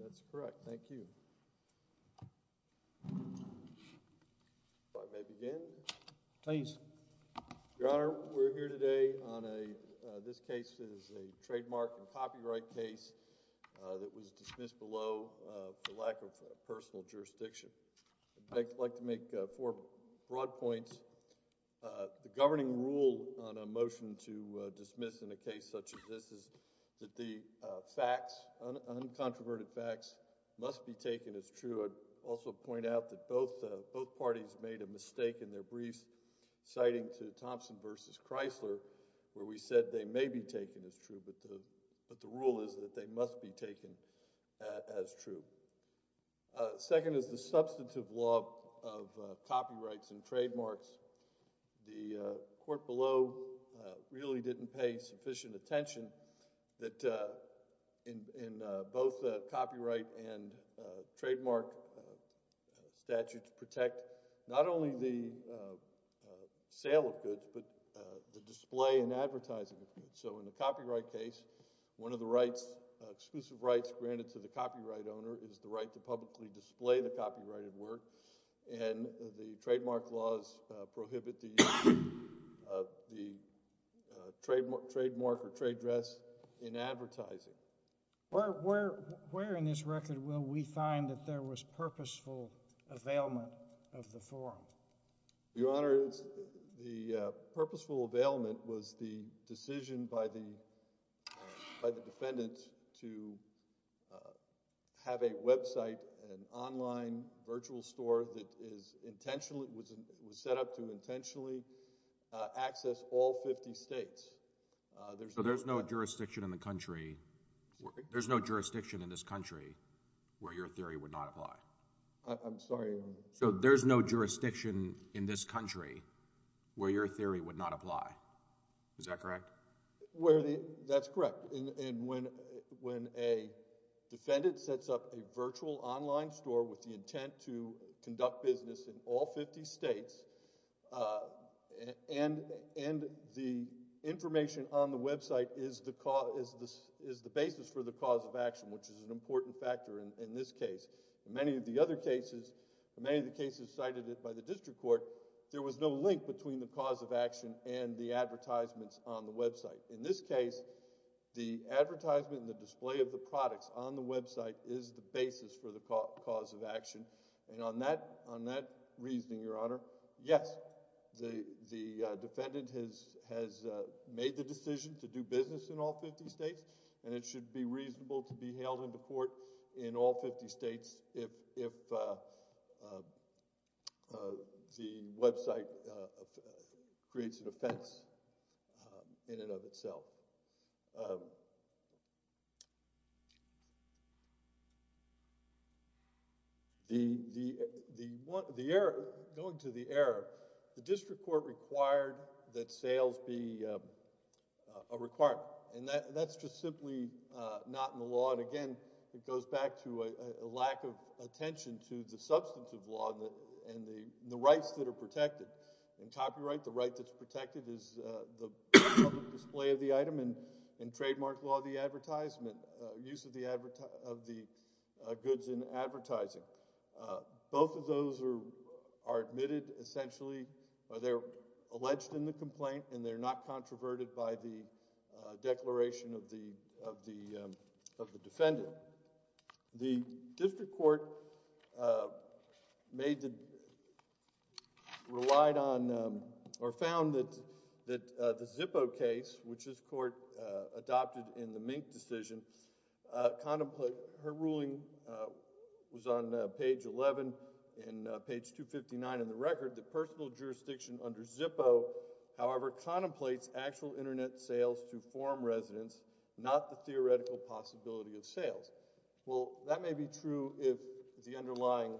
That's correct. Thank you. If I may begin. Please. Your Honor, we're here today on a, this case is a trademark and copyright case that was dismissed below for lack of personal jurisdiction. I'd like to make four broad points. First, the governing rule on a motion to dismiss in a case such as this is that the facts, uncontroverted facts, must be taken as true. I'd also point out that both parties made a mistake in their briefs citing to Thompson v. Chrysler where we said they may be taken as true, but the rule is that they must be taken as true. Second is the substantive law of copyrights and trademarks. The court below really didn't pay sufficient attention that in both copyright and trademark statutes protect not only the sale of goods, but the display and advertising of goods. So in the copyright case, one of the rights, exclusive rights granted to the copyright owner is the right to publicly display the copyrighted work, and the trademark laws prohibit the trademark or trade dress in advertising. Where in this record will we find that there was purposeful availment of the form? Your Honor, the purposeful availment was the decision by the defendant to have a website, an online virtual store that was set up to intentionally access all 50 states. So there's no jurisdiction in this country where your theory would not apply? So there's no jurisdiction in this country where your theory would not apply? Is that correct? That's correct. When a defendant sets up a virtual online store with the intent to conduct business in all 50 states and the information on the website is the basis for the cause of action, which is an important factor in this case. In many of the other cases, in many of the cases cited by the district court, there was no link between the cause of action and the advertisements on the website. In this case, the advertisement and the display of the products on the website is the basis for the cause of action. And on that reasoning, your Honor, yes, the defendant has made the decision to do business in all 50 states and it should be reasonable to be held in the court in all 50 states if the website creates an offense in and of itself. Going to the error, the district court required that sales be a requirement. And that's just simply not in the law. And, again, it goes back to a lack of attention to the substance of law and the rights that are protected. In copyright, the right that's protected is the public display of the item. In trademark law, the advertisement, use of the goods in advertising. Both of those are admitted, essentially. They're alleged in the complaint and they're not controverted by the declaration of the defendant. The district court relied on or found that the Zippo case, which this court adopted in the Mink decision, her ruling was on page 11 and page 259 in the record, that personal jurisdiction under Zippo, however, contemplates actual internet sales to forum residents, not the theoretical possibility of sales. Well, that may be true if the underlying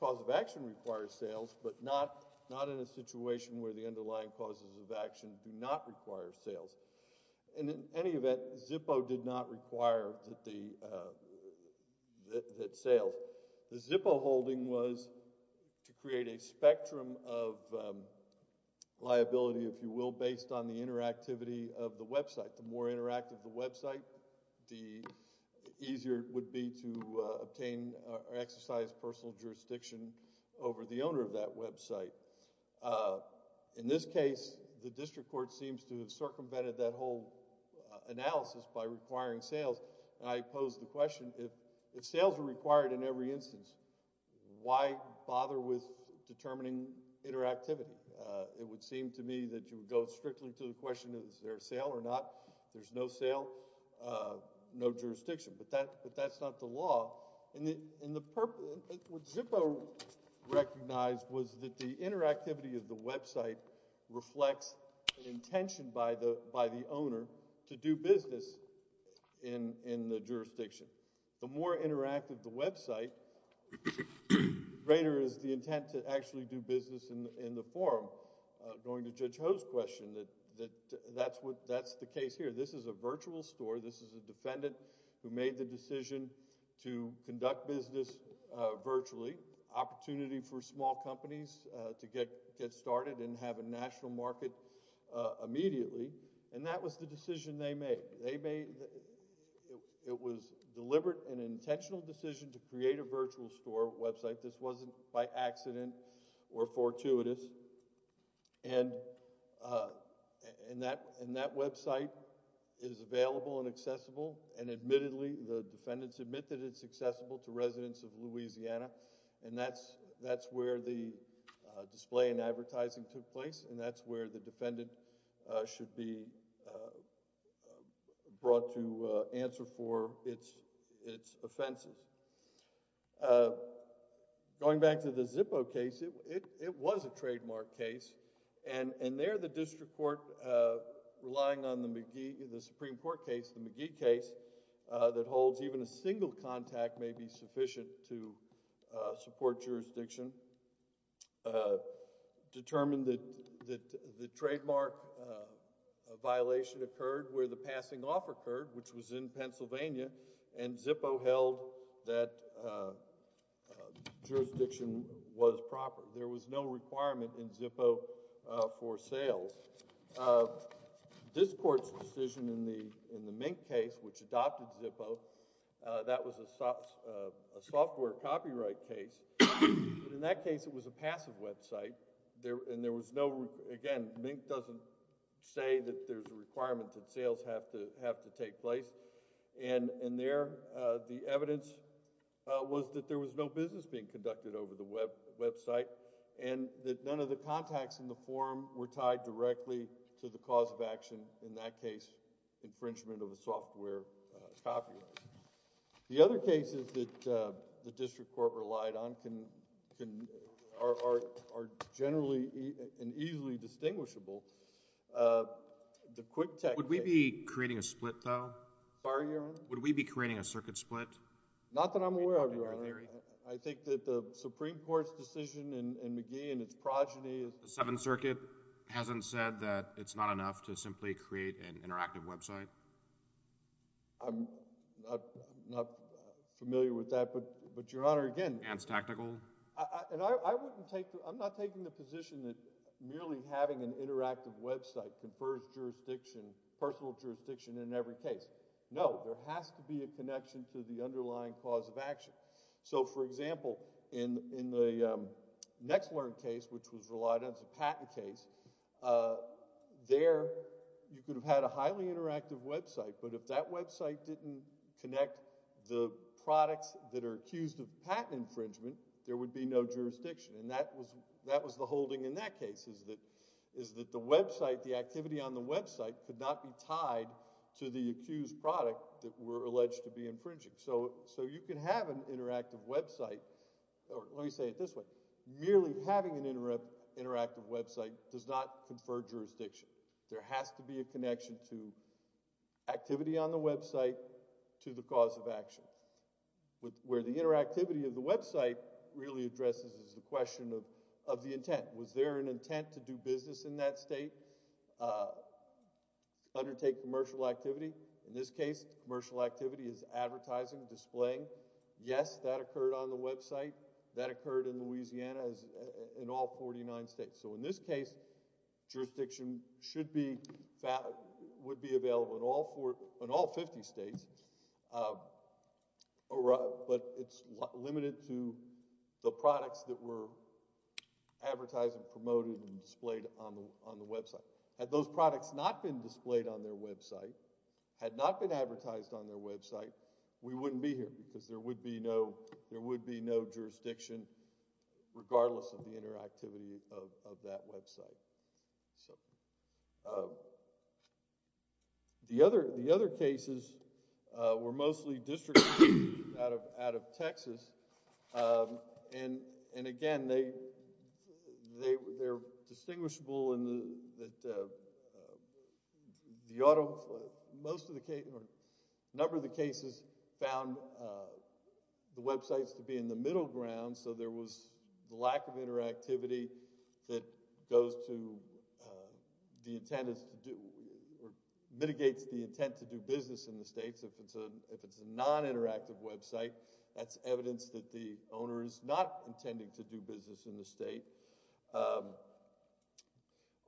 cause of action requires sales, but not in a situation where the underlying causes of action do not require sales. And in any event, Zippo did not require that sales. The Zippo holding was to create a spectrum of liability, if you will, based on the interactivity of the website. The more interactive the website, the easier it would be to obtain or exercise personal jurisdiction over the owner of that website. In this case, the district court seems to have circumvented that whole analysis by requiring sales. And I pose the question, if sales are required in every instance, why bother with determining interactivity? It would seem to me that you would go strictly to the question, is there a sale or not? If there's no sale, no jurisdiction. But that's not the law. What Zippo recognized was that the interactivity of the website reflects an intention by the owner to do business in the jurisdiction. The more interactive the website, the greater is the intent to actually do business in the forum. Going to Judge Ho's question, that's the case here. This is a virtual store. This is a defendant who made the decision to conduct business virtually. Opportunity for small companies to get started and have a national market immediately. And that was the decision they made. It was a deliberate and intentional decision to create a virtual store website. This wasn't by accident or fortuitous. And that website is available and accessible. And admittedly, the defendants admit that it's accessible to residents of Louisiana. And that's where the display and advertising took place. And that's where the defendant should be brought to answer for its offenses. Going back to the Zippo case, it was a trademark case. And there the district court, relying on the Supreme Court case, the McGee case, that holds even a single contact may be sufficient to support jurisdiction, determined that the trademark violation occurred where the passing off occurred, which was in Pennsylvania, and Zippo held that jurisdiction was proper. There was no requirement in Zippo for sales. This court's decision in the Mink case, which adopted Zippo, that was a software copyright case. In that case, it was a passive website. Again, Mink doesn't say that there's a requirement that sales have to take place. And there, the evidence was that there was no business being conducted over the website and that none of the contacts in the form were tied directly to the cause of action. In that case, infringement of a software copyright. The other cases that the district court relied on are generally and easily distinguishable. Would we be creating a split, though? Would we be creating a circuit split? Not that I'm aware of, Your Honor. I think that the Supreme Court's decision in McGee and its progeny— The Seventh Circuit hasn't said that it's not enough to simply create an interactive website? I'm not familiar with that, but, Your Honor, again— And it's tactical? I'm not taking the position that merely having an interactive website confers personal jurisdiction in every case. No, there has to be a connection to the underlying cause of action. So, for example, in the NextLearn case, which was relied on as a patent case, there you could have had a highly interactive website, but if that website didn't connect the products that are accused of patent infringement, there would be no jurisdiction. And that was the holding in that case, is that the website, the activity on the website, could not be tied to the accused product that we're alleged to be infringing. So you can have an interactive website— Let me say it this way. Merely having an interactive website does not confer jurisdiction. There has to be a connection to activity on the website, to the cause of action. Where the interactivity of the website really addresses the question of the intent. Was there an intent to do business in that state, undertake commercial activity? Yes, that occurred on the website. That occurred in Louisiana, in all 49 states. So in this case, jurisdiction would be available in all 50 states, but it's limited to the products that were advertised and promoted and displayed on the website. Had those products not been displayed on their website, had not been advertised on their website, we wouldn't be here because there would be no jurisdiction, regardless of the interactivity of that website. The other cases were mostly district cases out of Texas. And again, they're distinguishable in that most of the cases found the websites to be in the middle ground, so there was lack of interactivity that mitigates the intent to do business in the states. If it's a non-interactive website, that's evidence that the owner is not intending to do business in the state.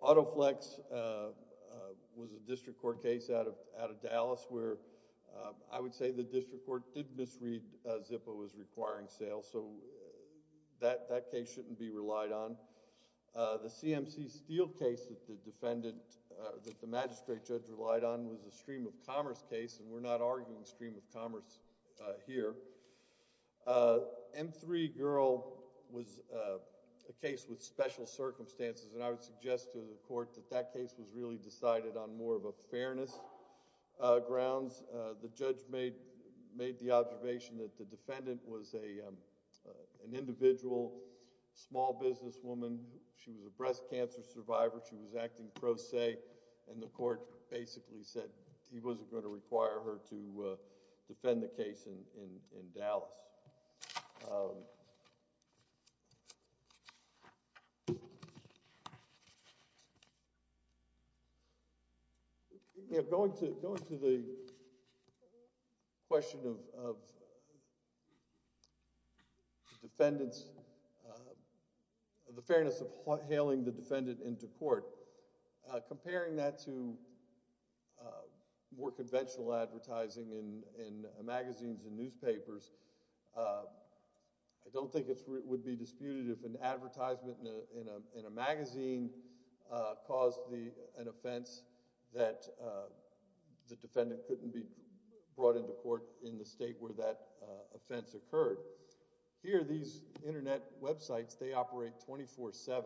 Autoflex was a district court case out of Dallas, where I would say the district court did misread ZIPA was requiring sales, so that case shouldn't be relied on. The CMC Steel case that the defendant, that the magistrate judge relied on, was a stream of commerce case, and we're not arguing stream of commerce here. M3 Girl was a case with special circumstances, and I would suggest to the court that that case was really decided on more of a fairness grounds. The judge made the observation that the defendant was an individual, small business woman. She was a breast cancer survivor. She was acting pro se, and the court basically said he wasn't going to require her to defend the case in Dallas. Going to the question of the fairness of hailing the defendant into court, comparing that to more conventional advertising in magazines and newspapers, I don't think it would be disputed if an advertisement in a magazine caused an offense that the defendant couldn't be brought into court in the state where that offense occurred. Here, these internet websites, they operate 24-7,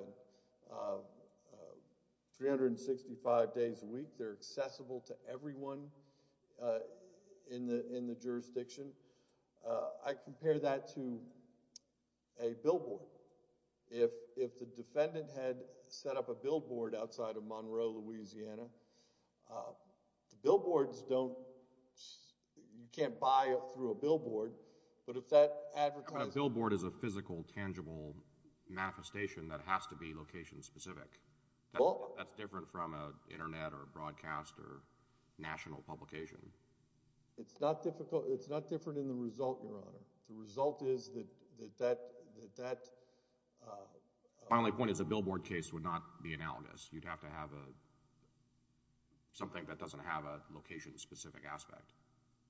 365 days a week. They're accessible to everyone in the jurisdiction. I compare that to a billboard. If the defendant had set up a billboard outside of Monroe, Louisiana, the billboards don't... you can't buy through a billboard, but if that advertisement... A billboard is a physical, tangible manifestation that has to be location-specific. That's different from an internet or broadcast or national publication. It's not different in the result, Your Honor. The result is that that... My only point is a billboard case would not be analogous. You'd have to have something that doesn't have a location-specific aspect.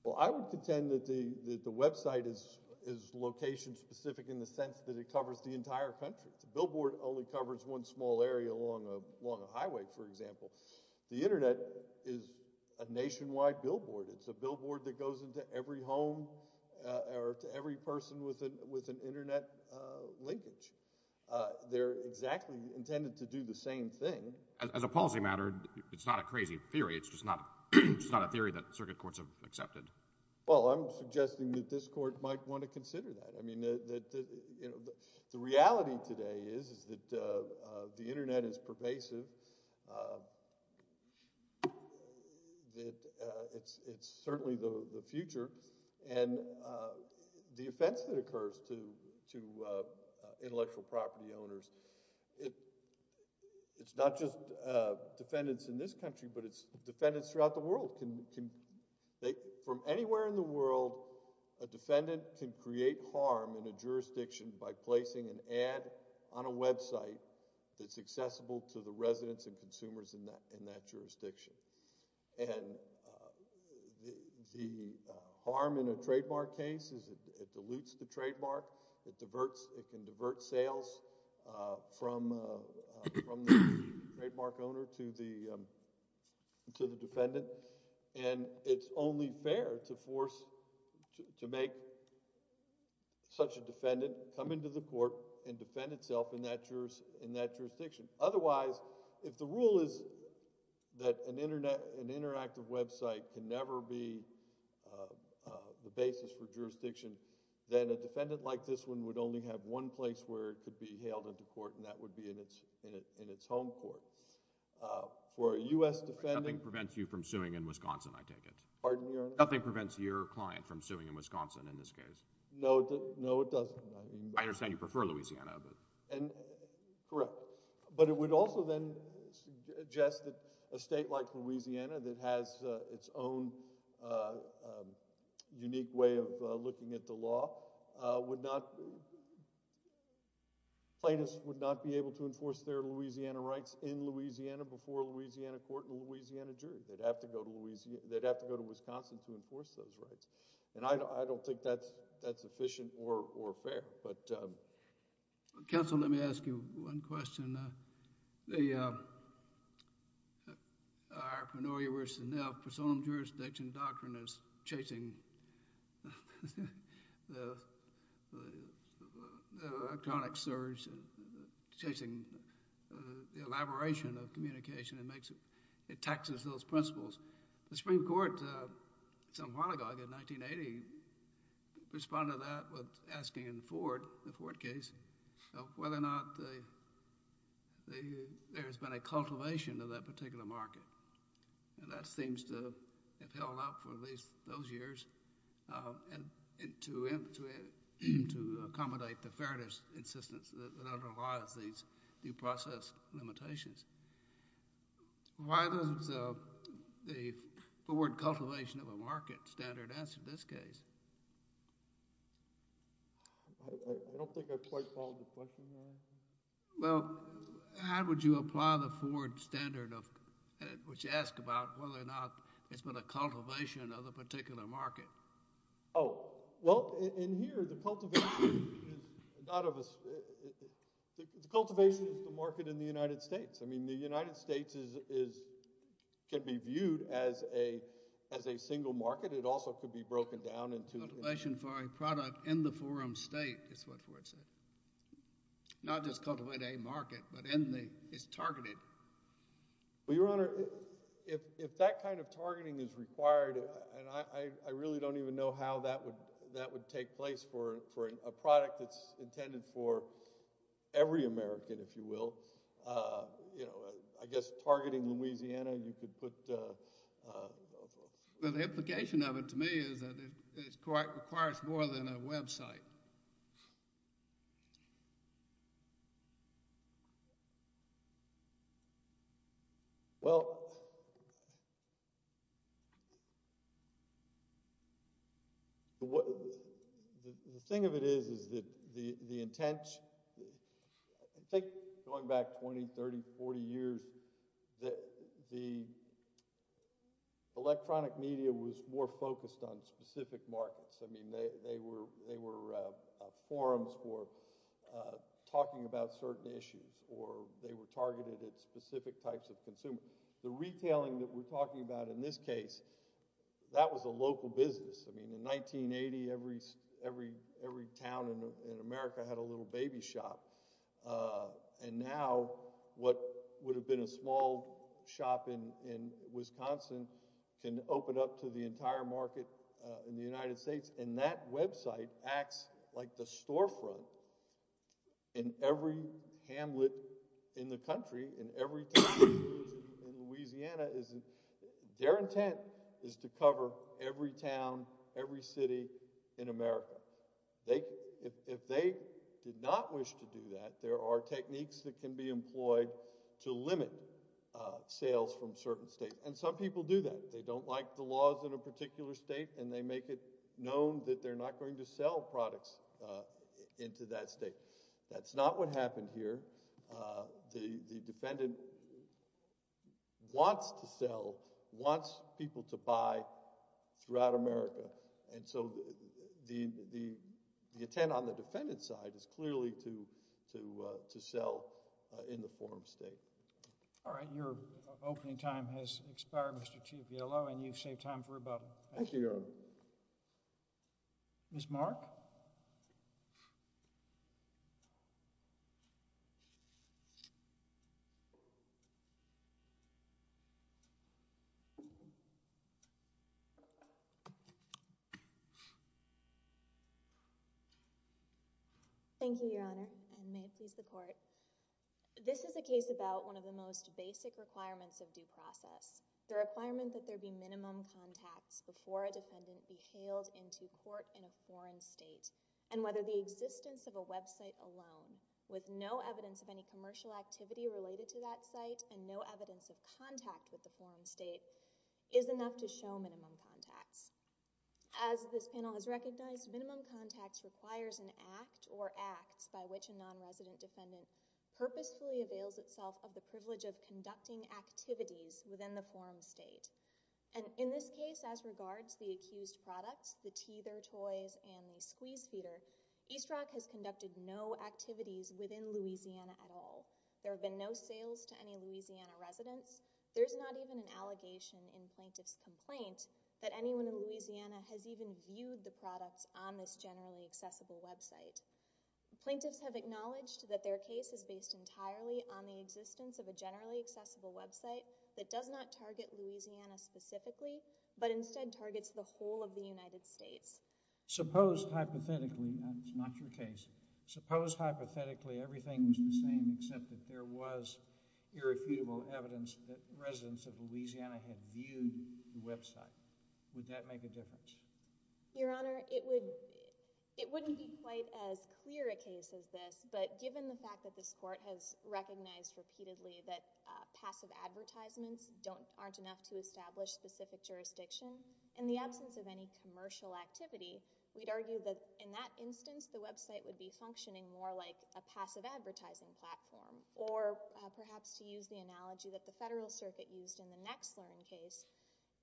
Well, I would contend that the website is location-specific in the sense that it covers the entire country. The billboard only covers one small area along a highway, for example. The internet is a nationwide billboard. It's a billboard that goes into every home or to every person with an internet linkage. They're exactly intended to do the same thing. As a policy matter, it's not a crazy theory. It's just not a theory that circuit courts have accepted. Well, I'm suggesting that this court might want to consider that. The reality today is that the internet is pervasive. It's certainly the future. The offense that occurs to intellectual property owners, it's not just defendants in this country, but it's defendants throughout the world. From anywhere in the world, a defendant can create harm in a jurisdiction by placing an ad on a website that's accessible to the residents and consumers in that jurisdiction. The harm in a trademark case is it dilutes the trademark. It can divert sales from the trademark owner to the defendant. It's only fair to force, to make such a defendant come into the court and defend itself in that jurisdiction. Otherwise, if the rule is that an interactive website can never be the basis for jurisdiction, then a defendant like this one would only have one place where it could be hailed into court, and that would be in its home court. For a U.S. defendant— Nothing prevents you from suing in Wisconsin, I take it. Pardon your— Nothing prevents your client from suing in Wisconsin in this case. No, it doesn't. I understand you prefer Louisiana, but— Correct. But it would also then suggest that a state like Louisiana that has its own unique way of looking at the law would not— plaintiffs would not be able to enforce their Louisiana rights in Louisiana before a Louisiana court and a Louisiana jury. They'd have to go to Wisconsin to enforce those rights. And I don't think that's efficient or fair. Counsel, let me ask you one question. In the Arpanoia v. Neff, personum jurisdiction doctrine is chasing the electronic surge, chasing the elaboration of communication. It taxes those principles. The Supreme Court some while ago, I think in 1980, responded to that with asking in the Ford case whether or not there has been a cultivation of that particular market. And that seems to have held up for at least those years to accommodate the fairness insistence that underlies these due process limitations. Why does the Ford cultivation of a market standard answer this case? I don't think I quite followed the question. Well, how would you apply the Ford standard of— which you asked about whether or not there's been a cultivation of a particular market? Oh, well, in here, the cultivation is not of a— the cultivation is the market in the United States. I mean, the United States can be viewed as a single market. It also could be broken down into— Cultivation for a product in the forum state is what Ford said. Not just cultivate a market, but in the—it's targeted. Well, Your Honor, if that kind of targeting is required, and I really don't even know how that would take place for a product that's intended for every American, if you will. You know, I guess targeting Louisiana, you could put— Well, the implication of it to me is that it requires more than a website. Well, the thing of it is that the intent— I think going back 20, 30, 40 years, the electronic media was more focused on specific markets. I mean, they were forums for talking about certain issues, or they were targeted at specific types of consumers. The retailing that we're talking about in this case, that was a local business. I mean, in 1980, every town in America had a little baby shop. And now, what would have been a small shop in Wisconsin can open up to the entire market in the United States, and that website acts like the storefront in every hamlet in the country, in every town in Louisiana. Their intent is to cover every town, every city in America. If they did not wish to do that, there are techniques that can be employed to limit sales from certain states. And some people do that. They don't like the laws in a particular state, and they make it known that they're not going to sell products into that state. That's not what happened here. The defendant wants to sell, wants people to buy throughout America. And so the intent on the defendant's side is clearly to sell in the forum state. All right. Your opening time has expired, Mr. Ciepiela, and you've saved time for about half an hour. Thank you, Your Honor. Ms. Mark? Thank you, Your Honor, and may it please the Court. This is a case about one of the most basic requirements of due process, the requirement that there be minimum contacts before a defendant be hailed into court in a foreign state, and whether the existence of a website alone, with no evidence of any commercial activity related to that site and no evidence of contact with the foreign state, is enough to show minimum contacts. As this panel has recognized, minimum contacts requires an act or acts by which a nonresident defendant purposefully avails itself of the privilege of conducting activities within the forum state. And in this case, as regards the accused products, the teether toys and the squeeze feeder, East Rock has conducted no activities within Louisiana at all. There have been no sales to any Louisiana residents. There's not even an allegation in plaintiff's complaint that anyone in Louisiana has even viewed the products on this generally accessible website. Plaintiffs have acknowledged that their case is based entirely on the existence of a generally accessible website that does not target Louisiana specifically, but instead targets the whole of the United States. Suppose hypothetically, and it's not your case, suppose hypothetically everything was the same except that there was irrefutable evidence that residents of Louisiana had viewed the website. Would that make a difference? Your Honor, it wouldn't be quite as clear a case as this, but given the fact that this court has recognized repeatedly that passive advertisements aren't enough to establish specific jurisdiction, in the absence of any commercial activity, we'd argue that in that instance, the website would be functioning more like a passive advertising platform, or perhaps to use the analogy that the Federal Circuit used in the Nexlern case,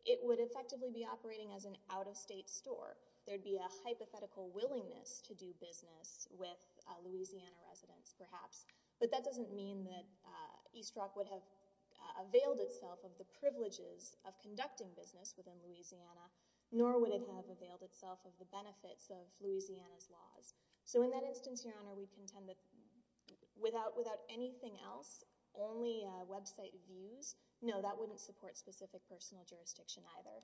it would effectively be operating as an out-of-state store. There'd be a hypothetical willingness to do business with Louisiana residents perhaps, but that doesn't mean that East Rock would have availed itself of the privileges of conducting business within Louisiana, nor would it have availed itself of the benefits of Louisiana's laws. So in that instance, Your Honor, we contend that without anything else, only website views, no, that wouldn't support specific personal jurisdiction either.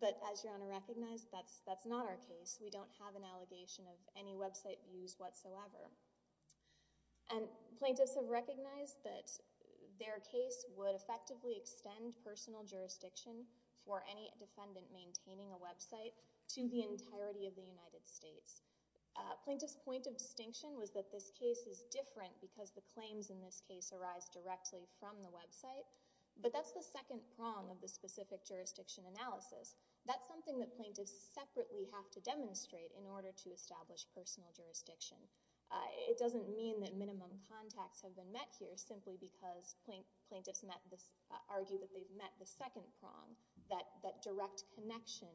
But as Your Honor recognized, that's not our case. We don't have an allegation of any website views whatsoever. And plaintiffs have recognized that their case would effectively extend personal jurisdiction for any defendant maintaining a website to the entirety of the United States. Plaintiffs' point of distinction was that this case is different because the claims in this case arise directly from the website, but that's the second prong of the specific jurisdiction analysis. That's something that plaintiffs separately have to demonstrate in order to establish personal jurisdiction. It doesn't mean that minimum contacts have been met here simply because plaintiffs argue that they've met the second prong, that direct connection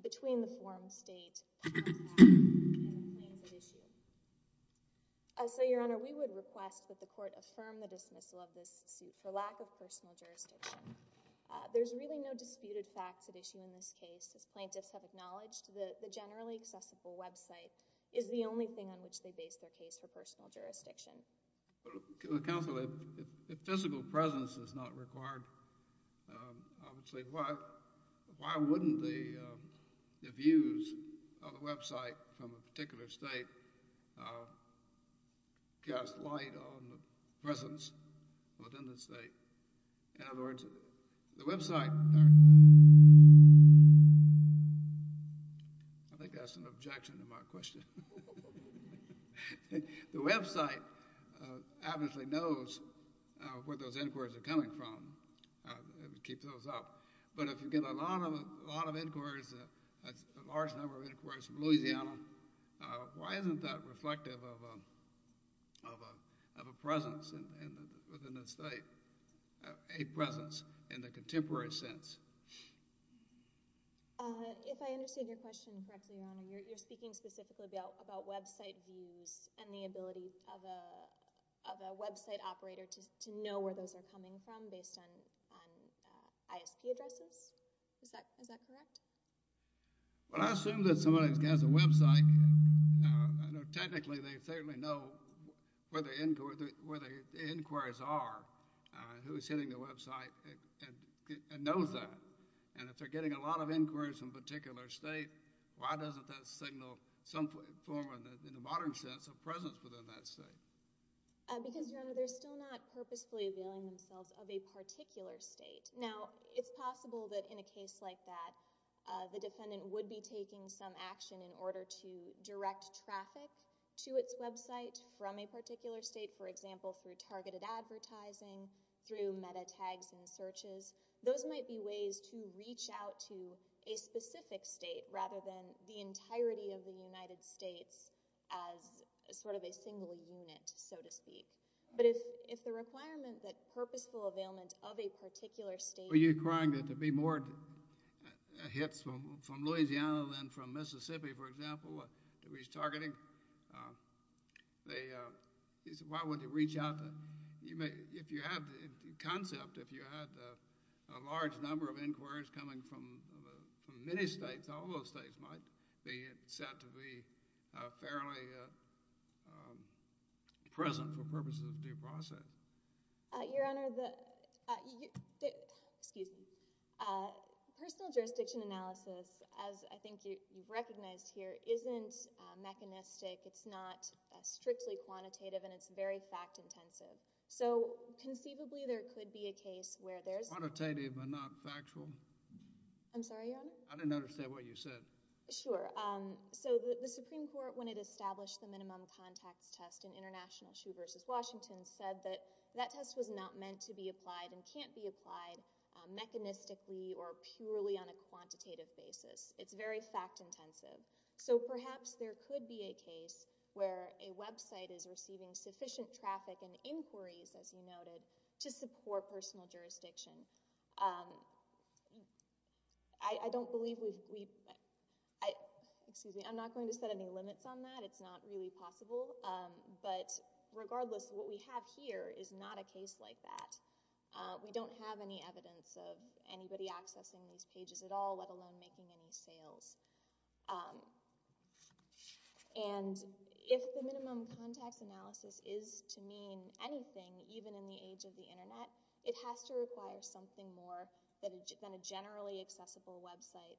between the forum state and the claims at issue. So Your Honor, we would request that the court affirm the dismissal of this suit for lack of personal jurisdiction. There's really no disputed facts at issue in this case. As plaintiffs have acknowledged, the generally accessible website is the only thing on which they base their case for personal jurisdiction. Counsel, if physical presence is not required, I would say why wouldn't the views of the website from a particular state cast light on the presence within the state? In other words, the website... I think that's an objection to my question. The website obviously knows where those inquiries are coming from. It would keep those up. But if you get a lot of inquiries, a large number of inquiries from Louisiana, why isn't that reflective of a presence within the state, a presence in the contemporary sense? If I understand your question correctly, Your Honor, you're speaking specifically about website views and the ability of a website operator to know where those are coming from based on ISP addresses. Is that correct? Well, I assume that somebody who has a website, technically they certainly know where the inquiries are, who's hitting the website, and knows that. And if they're getting a lot of inquiries from a particular state, why doesn't that signal some form, in the modern sense, a presence within that state? Because, Your Honor, they're still not purposefully availing themselves of a particular state. Now, it's possible that in a case like that, the defendant would be taking some action in order to direct traffic to its website from a particular state, for example, through targeted advertising, through meta-tags and searches. Those might be ways to reach out to a specific state rather than the entirety of the United States as sort of a single unit, so to speak. But if the requirement that purposeful availment of a particular state... Were you crying that there'd be more hits from Louisiana than from Mississippi, for example, to reach targeting? Why wouldn't they reach out? If you have the concept, if you had a large number of inquiries coming from many states, all those states might be set to be fairly present for purposes of due process. Your Honor, the... Excuse me. Personal jurisdiction analysis, as I think you've recognized here, isn't mechanistic, it's not strictly quantitative, and it's very fact-intensive. So conceivably there could be a case where there's... Quantitative but not factual? I'm sorry, Your Honor? I didn't understand what you said. Sure. So the Supreme Court, when it established the minimum contacts test in International Shoe v. Washington, said that that test was not meant to be applied and can't be applied mechanistically or purely on a quantitative basis. It's very fact-intensive. So perhaps there could be a case where a website is receiving sufficient traffic and inquiries, as you noted, to support personal jurisdiction. I don't believe we've... Excuse me. I'm not going to set any limits on that. It's not really possible. But regardless, what we have here is not a case like that. We don't have any evidence of anybody accessing these pages at all, let alone making any sales. And if the minimum contacts analysis is to mean anything, even in the age of the Internet, it has to require something more than a generally accessible website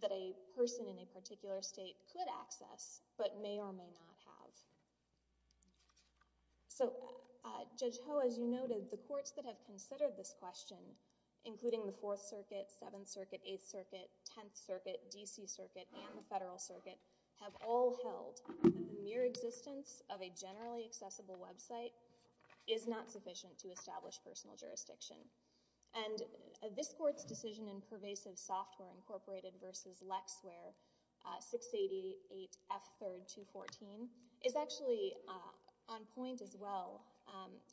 that a person in a particular state could access but may or may not have. So, Judge Ho, as you noted, the courts that have considered this question, including the Fourth Circuit, Seventh Circuit, Eighth Circuit, Tenth Circuit, D.C. Circuit, and the Federal Circuit, have all held that the mere existence of a generally accessible website is not sufficient to establish personal jurisdiction. And this court's decision in Pervasive Software Incorporated versus LexWare 688F3214 is actually on point as well.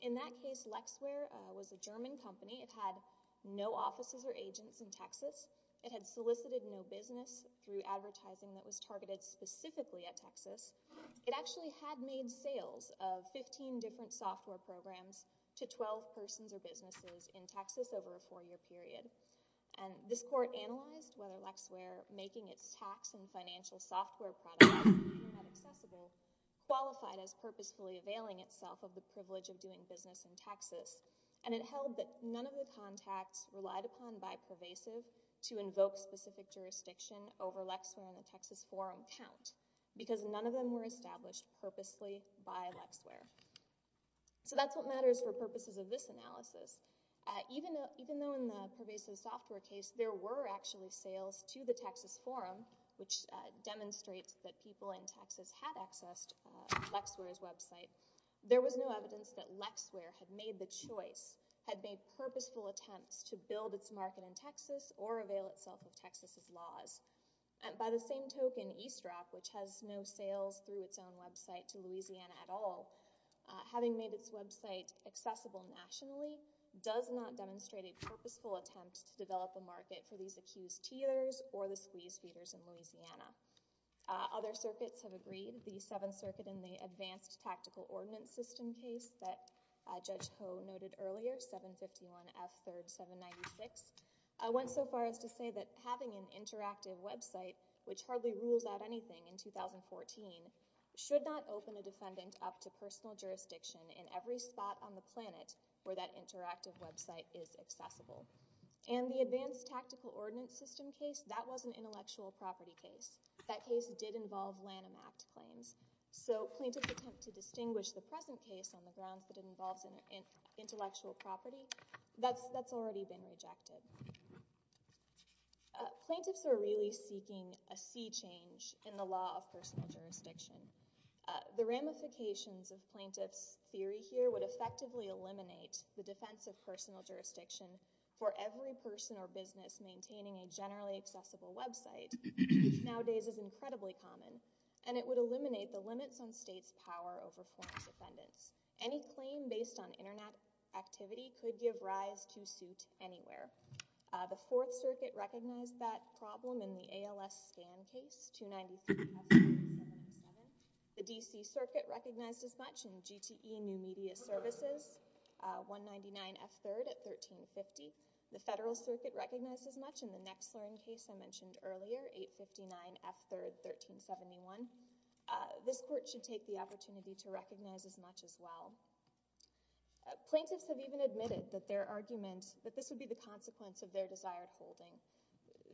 In that case, LexWare was a German company. It had no offices or agents in Texas. It had solicited no business through advertising that was targeted specifically at Texas. It actually had made sales of 15 different software programs to 12 persons or businesses in Texas over a four-year period. And this court analyzed whether LexWare, making its tax and financial software products Internet-accessible, qualified as purposefully availing itself of the privilege of doing business in Texas. And it held that none of the contacts relied upon by Pervasive to invoke specific jurisdiction over LexWare in the Texas forum count because none of them were established purposely by LexWare. So that's what matters for purposes of this analysis. Even though in the Pervasive Software case there were actually sales to the Texas forum, there was no evidence that LexWare had made the choice, had made purposeful attempts to build its market in Texas or avail itself of Texas' laws. And by the same token, Eastrock, which has no sales through its own website to Louisiana at all, having made its website accessible nationally, does not demonstrate a purposeful attempt to develop a market for these accused teeters or the squeeze feeders in Louisiana. Other circuits have agreed. The Seventh Circuit in the Advanced Tactical Ordinance System case that Judge Koh noted earlier, 751 F. 3rd 796, went so far as to say that having an interactive website, which hardly rules out anything in 2014, should not open a defendant up to personal jurisdiction in every spot on the planet where that interactive website is accessible. And the Advanced Tactical Ordinance System case, that was an intellectual property case. That case did involve Lanham Act claims. So plaintiff's attempt to distinguish the present case on the grounds that it involves intellectual property, that's already been rejected. Plaintiffs are really seeking a sea change in the law of personal jurisdiction. The ramifications of plaintiffs' theory here would effectively eliminate the defense of personal jurisdiction for every person or business maintaining a generally accessible website which nowadays is incredibly common. And it would eliminate the limits on states' power over forms of defendants. Any claim based on Internet activity could give rise to suit anywhere. The Fourth Circuit recognized that problem in the ALS Scan case, 293 F. 3rd 797. The D.C. Circuit recognized as much in GTE New Media Services, 199 F. 3rd at 1350. The Federal Circuit recognized as much in the next slurring case I mentioned earlier, 859 F. 3rd 1371. This court should take the opportunity to recognize as much as well. Plaintiffs have even admitted that their argument, that this would be the consequence of their desired holding.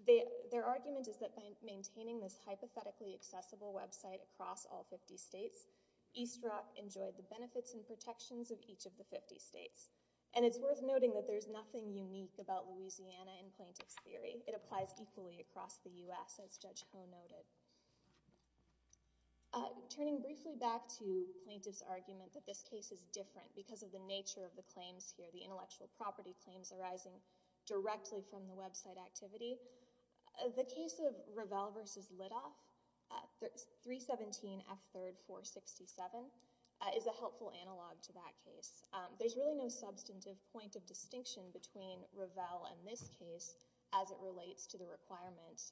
Their argument is that by maintaining this hypothetically accessible website across all 50 states, East Rock enjoyed the benefits and protections of each of the 50 states. And it's worth noting that there's nothing unique about Louisiana in plaintiff's theory. It applies equally across the U.S., as Judge Ho noted. Turning briefly back to plaintiff's argument that this case is different because of the nature of the claims here, the intellectual property claims arising directly from the website activity, the case of Revell v. Litoff, 317 F. 3rd 467, is a helpful analog to that case. There's really no substantive point of distinction between Revell and this case as it relates to the requirements,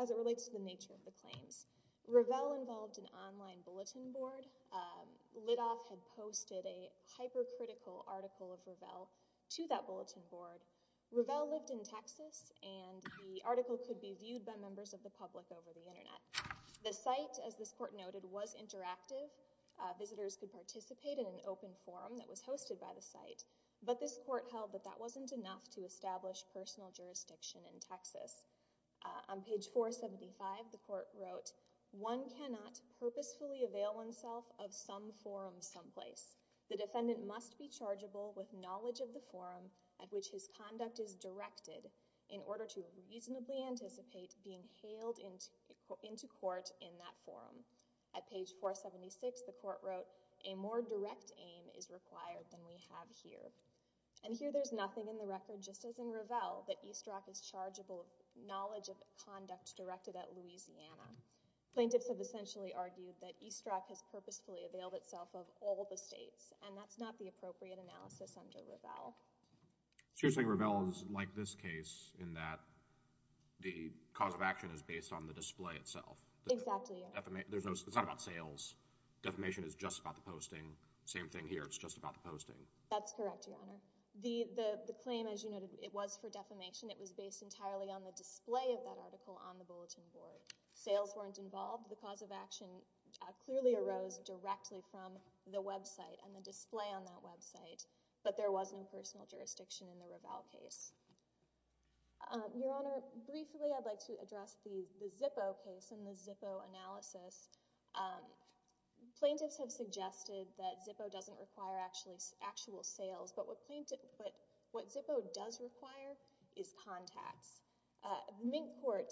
as it relates to the nature of the claims. Revell involved an online bulletin board. Litoff had posted a hypercritical article of Revell to that bulletin board. Revell lived in Texas, and the article could be viewed by members of the public over the internet. The site, as this court noted, was interactive. Visitors could participate in an open forum that was hosted by the site. But this court held that that wasn't enough to establish personal jurisdiction in Texas. On page 475, the court wrote, one cannot purposefully avail oneself of some forum someplace. The defendant must be chargeable with knowledge of the forum at which his conduct is directed in order to reasonably anticipate being hailed into court in that forum. At page 476, the court wrote, a more direct aim is required than we have here. And here there's nothing in the record, just as in Revell, that East Rock is chargeable with knowledge of the conduct directed at Louisiana. Plaintiffs have essentially argued that East Rock has purposefully availed itself of all the states, and that's not the appropriate analysis under Revell. So you're saying Revell is like this case in that the cause of action is based on the display itself? Exactly. It's not about sales. Defamation is just about the posting. Same thing here, it's just about the posting. That's correct, Your Honor. The claim, as you noted, it was for defamation. It was based entirely on the display of that article on the bulletin board. Sales weren't involved. The cause of action clearly arose directly from the website and the display on that website. But there was no personal jurisdiction in the Revell case. Your Honor, briefly I'd like to address the Zippo case and the Zippo analysis. Plaintiffs have suggested that Zippo doesn't require actual sales, but what Zippo does require is contacts. Minkport,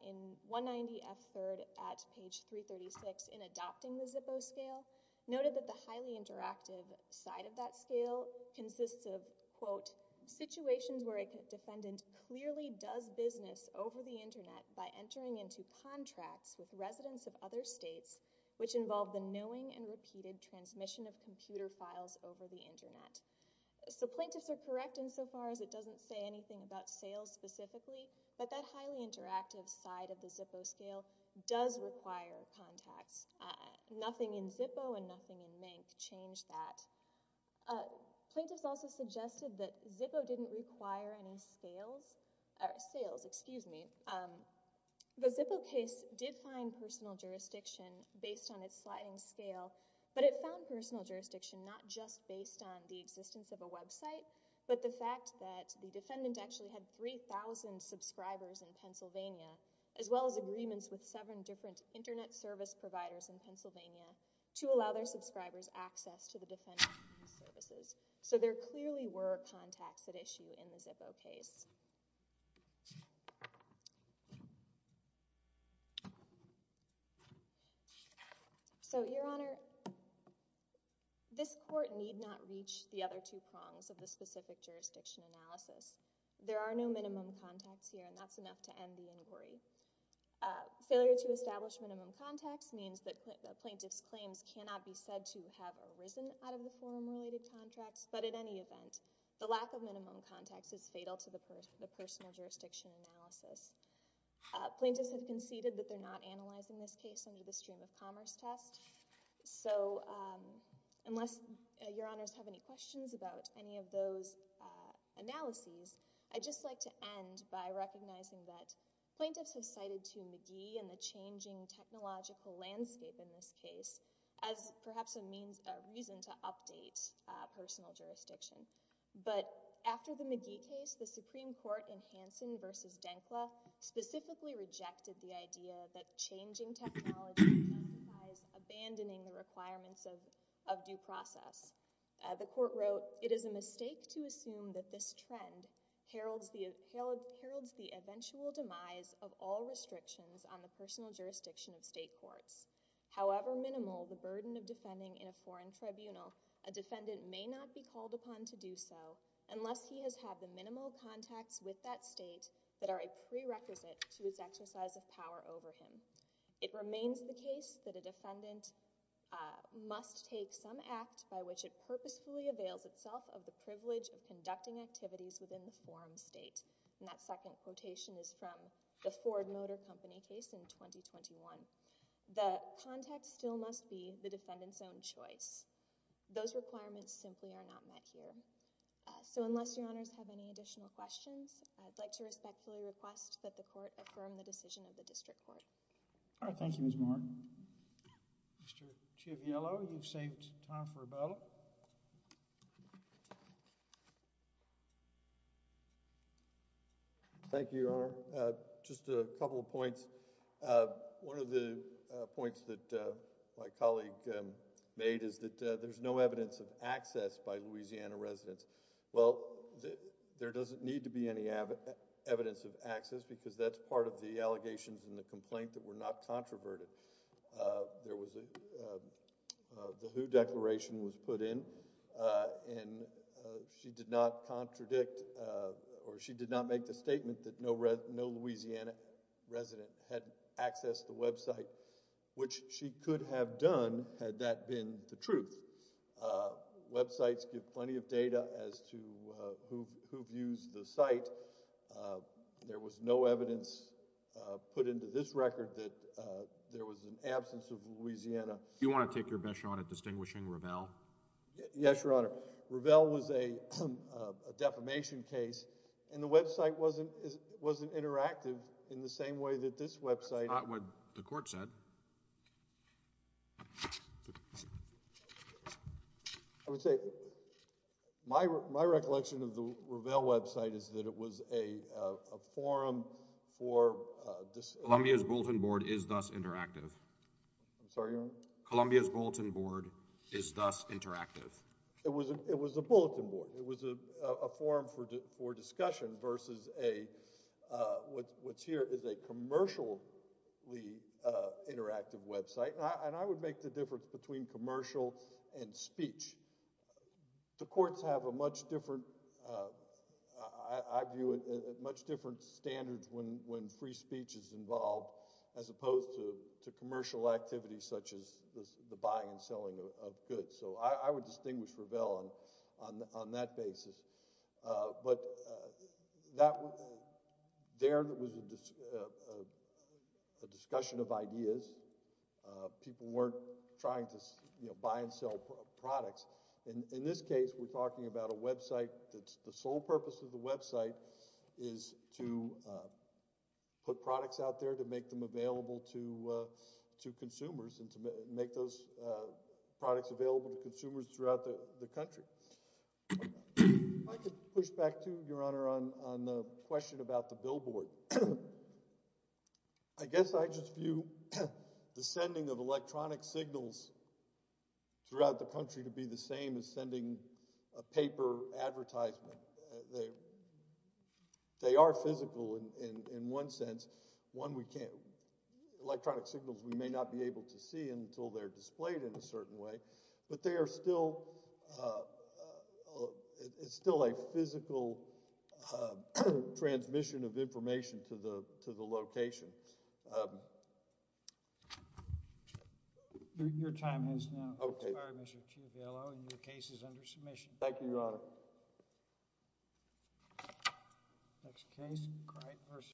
in 190 F. 3rd, at page 336, in adopting the Zippo scale, noted that the highly interactive side of that scale consists of, quote, situations where a defendant clearly does business over the Internet by entering into contracts with residents of other states, which involve the knowing and repeated transmission of computer files over the Internet. So plaintiffs are correct insofar as it doesn't say anything about sales specifically, but that highly interactive side of the Zippo scale does require contacts. Nothing in Zippo and nothing in Mink change that. Plaintiffs also suggested that Zippo didn't require any sales. Sales, excuse me. The Zippo case did find personal jurisdiction based on its sliding scale, but it found personal jurisdiction not just based on the existence of a website, but the fact that the defendant actually had 3,000 subscribers in Pennsylvania, as well as agreements with seven different Internet service providers in Pennsylvania to allow their subscribers access to the defendant's services. So there clearly were contacts at issue in the Zippo case. So, Your Honor, this court need not reach the other two prongs of the specific jurisdiction analysis. There are no minimum contacts here, and that's enough to end the inquiry. Failure to establish minimum contacts cannot be said to have arisen out of the forum-related contracts, but at any event, the lack of minimum contacts is fatal to the personal jurisdiction analysis. Plaintiffs have conceded that they're not analyzing this case under the stream-of-commerce test, so unless Your Honors have any questions about any of those analyses, I'd just like to end by recognizing that plaintiffs have cited to McGee and the changing technological landscape in this case as perhaps a reason to update personal jurisdiction. But after the McGee case, the Supreme Court in Hansen v. Denkla specifically rejected the idea that changing technology implies abandoning the requirements of due process. The court wrote, It is a mistake to assume that this trend heralds the eventual demise of all restrictions on the personal jurisdiction of state courts. However minimal the burden of defending in a foreign tribunal, a defendant may not be called upon to do so unless he has had the minimal contacts with that state that are a prerequisite to his exercise of power over him. It remains the case that a defendant must take some act by which it purposefully avails itself of the privilege of conducting activities within the forum state. And that second quotation is from the Ford Motor Company case in 2021. The context still must be the defendant's own choice. Those requirements simply are not met here. So unless your honors have any additional questions, I'd like to respectfully request that the court affirm the decision of the district court. All right, thank you, Ms. Moore. Mr. Chiviello, you've saved time for a ballot. Thank you, Your Honor. Just a couple of points. One of the points that my colleague made is that there's no evidence of access by Louisiana residents. Well, there doesn't need to be any evidence of access because that's part of the allegations and the complaint that were not controverted. There was a who declaration was put in and she did not contradict or she did not make the statement that no Louisiana resident had access to the website, which she could have done had that been the truth. Websites give plenty of data as to who views the site. There was no evidence put into this record that there was an absence of Louisiana. Do you want to take your bet, Your Honor, at distinguishing Ravel? Yes, Your Honor. Ravel was a defamation case and the website wasn't interactive in the same way that this website... That's not what the court said. I would say my recollection of the Ravel website is that it was a forum for... Columbia's bulletin board is thus interactive. I'm sorry, Your Honor? Columbia's bulletin board is thus interactive. It was a bulletin board. It was a forum for discussion versus what's here is a commercially interactive website. And I would make the difference between commercial and speech. The courts have a much different... I view it at much different standards when free speech is involved as opposed to commercial activities such as the buying and selling of goods. So I would distinguish Ravel on that basis. But there was a discussion of ideas. People weren't trying to buy and sell products. In this case, we're talking about a website that the sole purpose of the website is to put products out there to make them available to consumers and to make those products available to consumers throughout the country. If I could push back, too, Your Honor, on the question about the billboard. I guess I just view the sending of electronic signals throughout the country to be the same as sending a paper advertisement. They are physical in one sense. One, we can't... Electronic signals, we may not be able to see until they're displayed in a certain way. But they are still... It's still a physical transmission of information to the location. Your time has now expired, Mr. Chief. Thank you, Your Honor.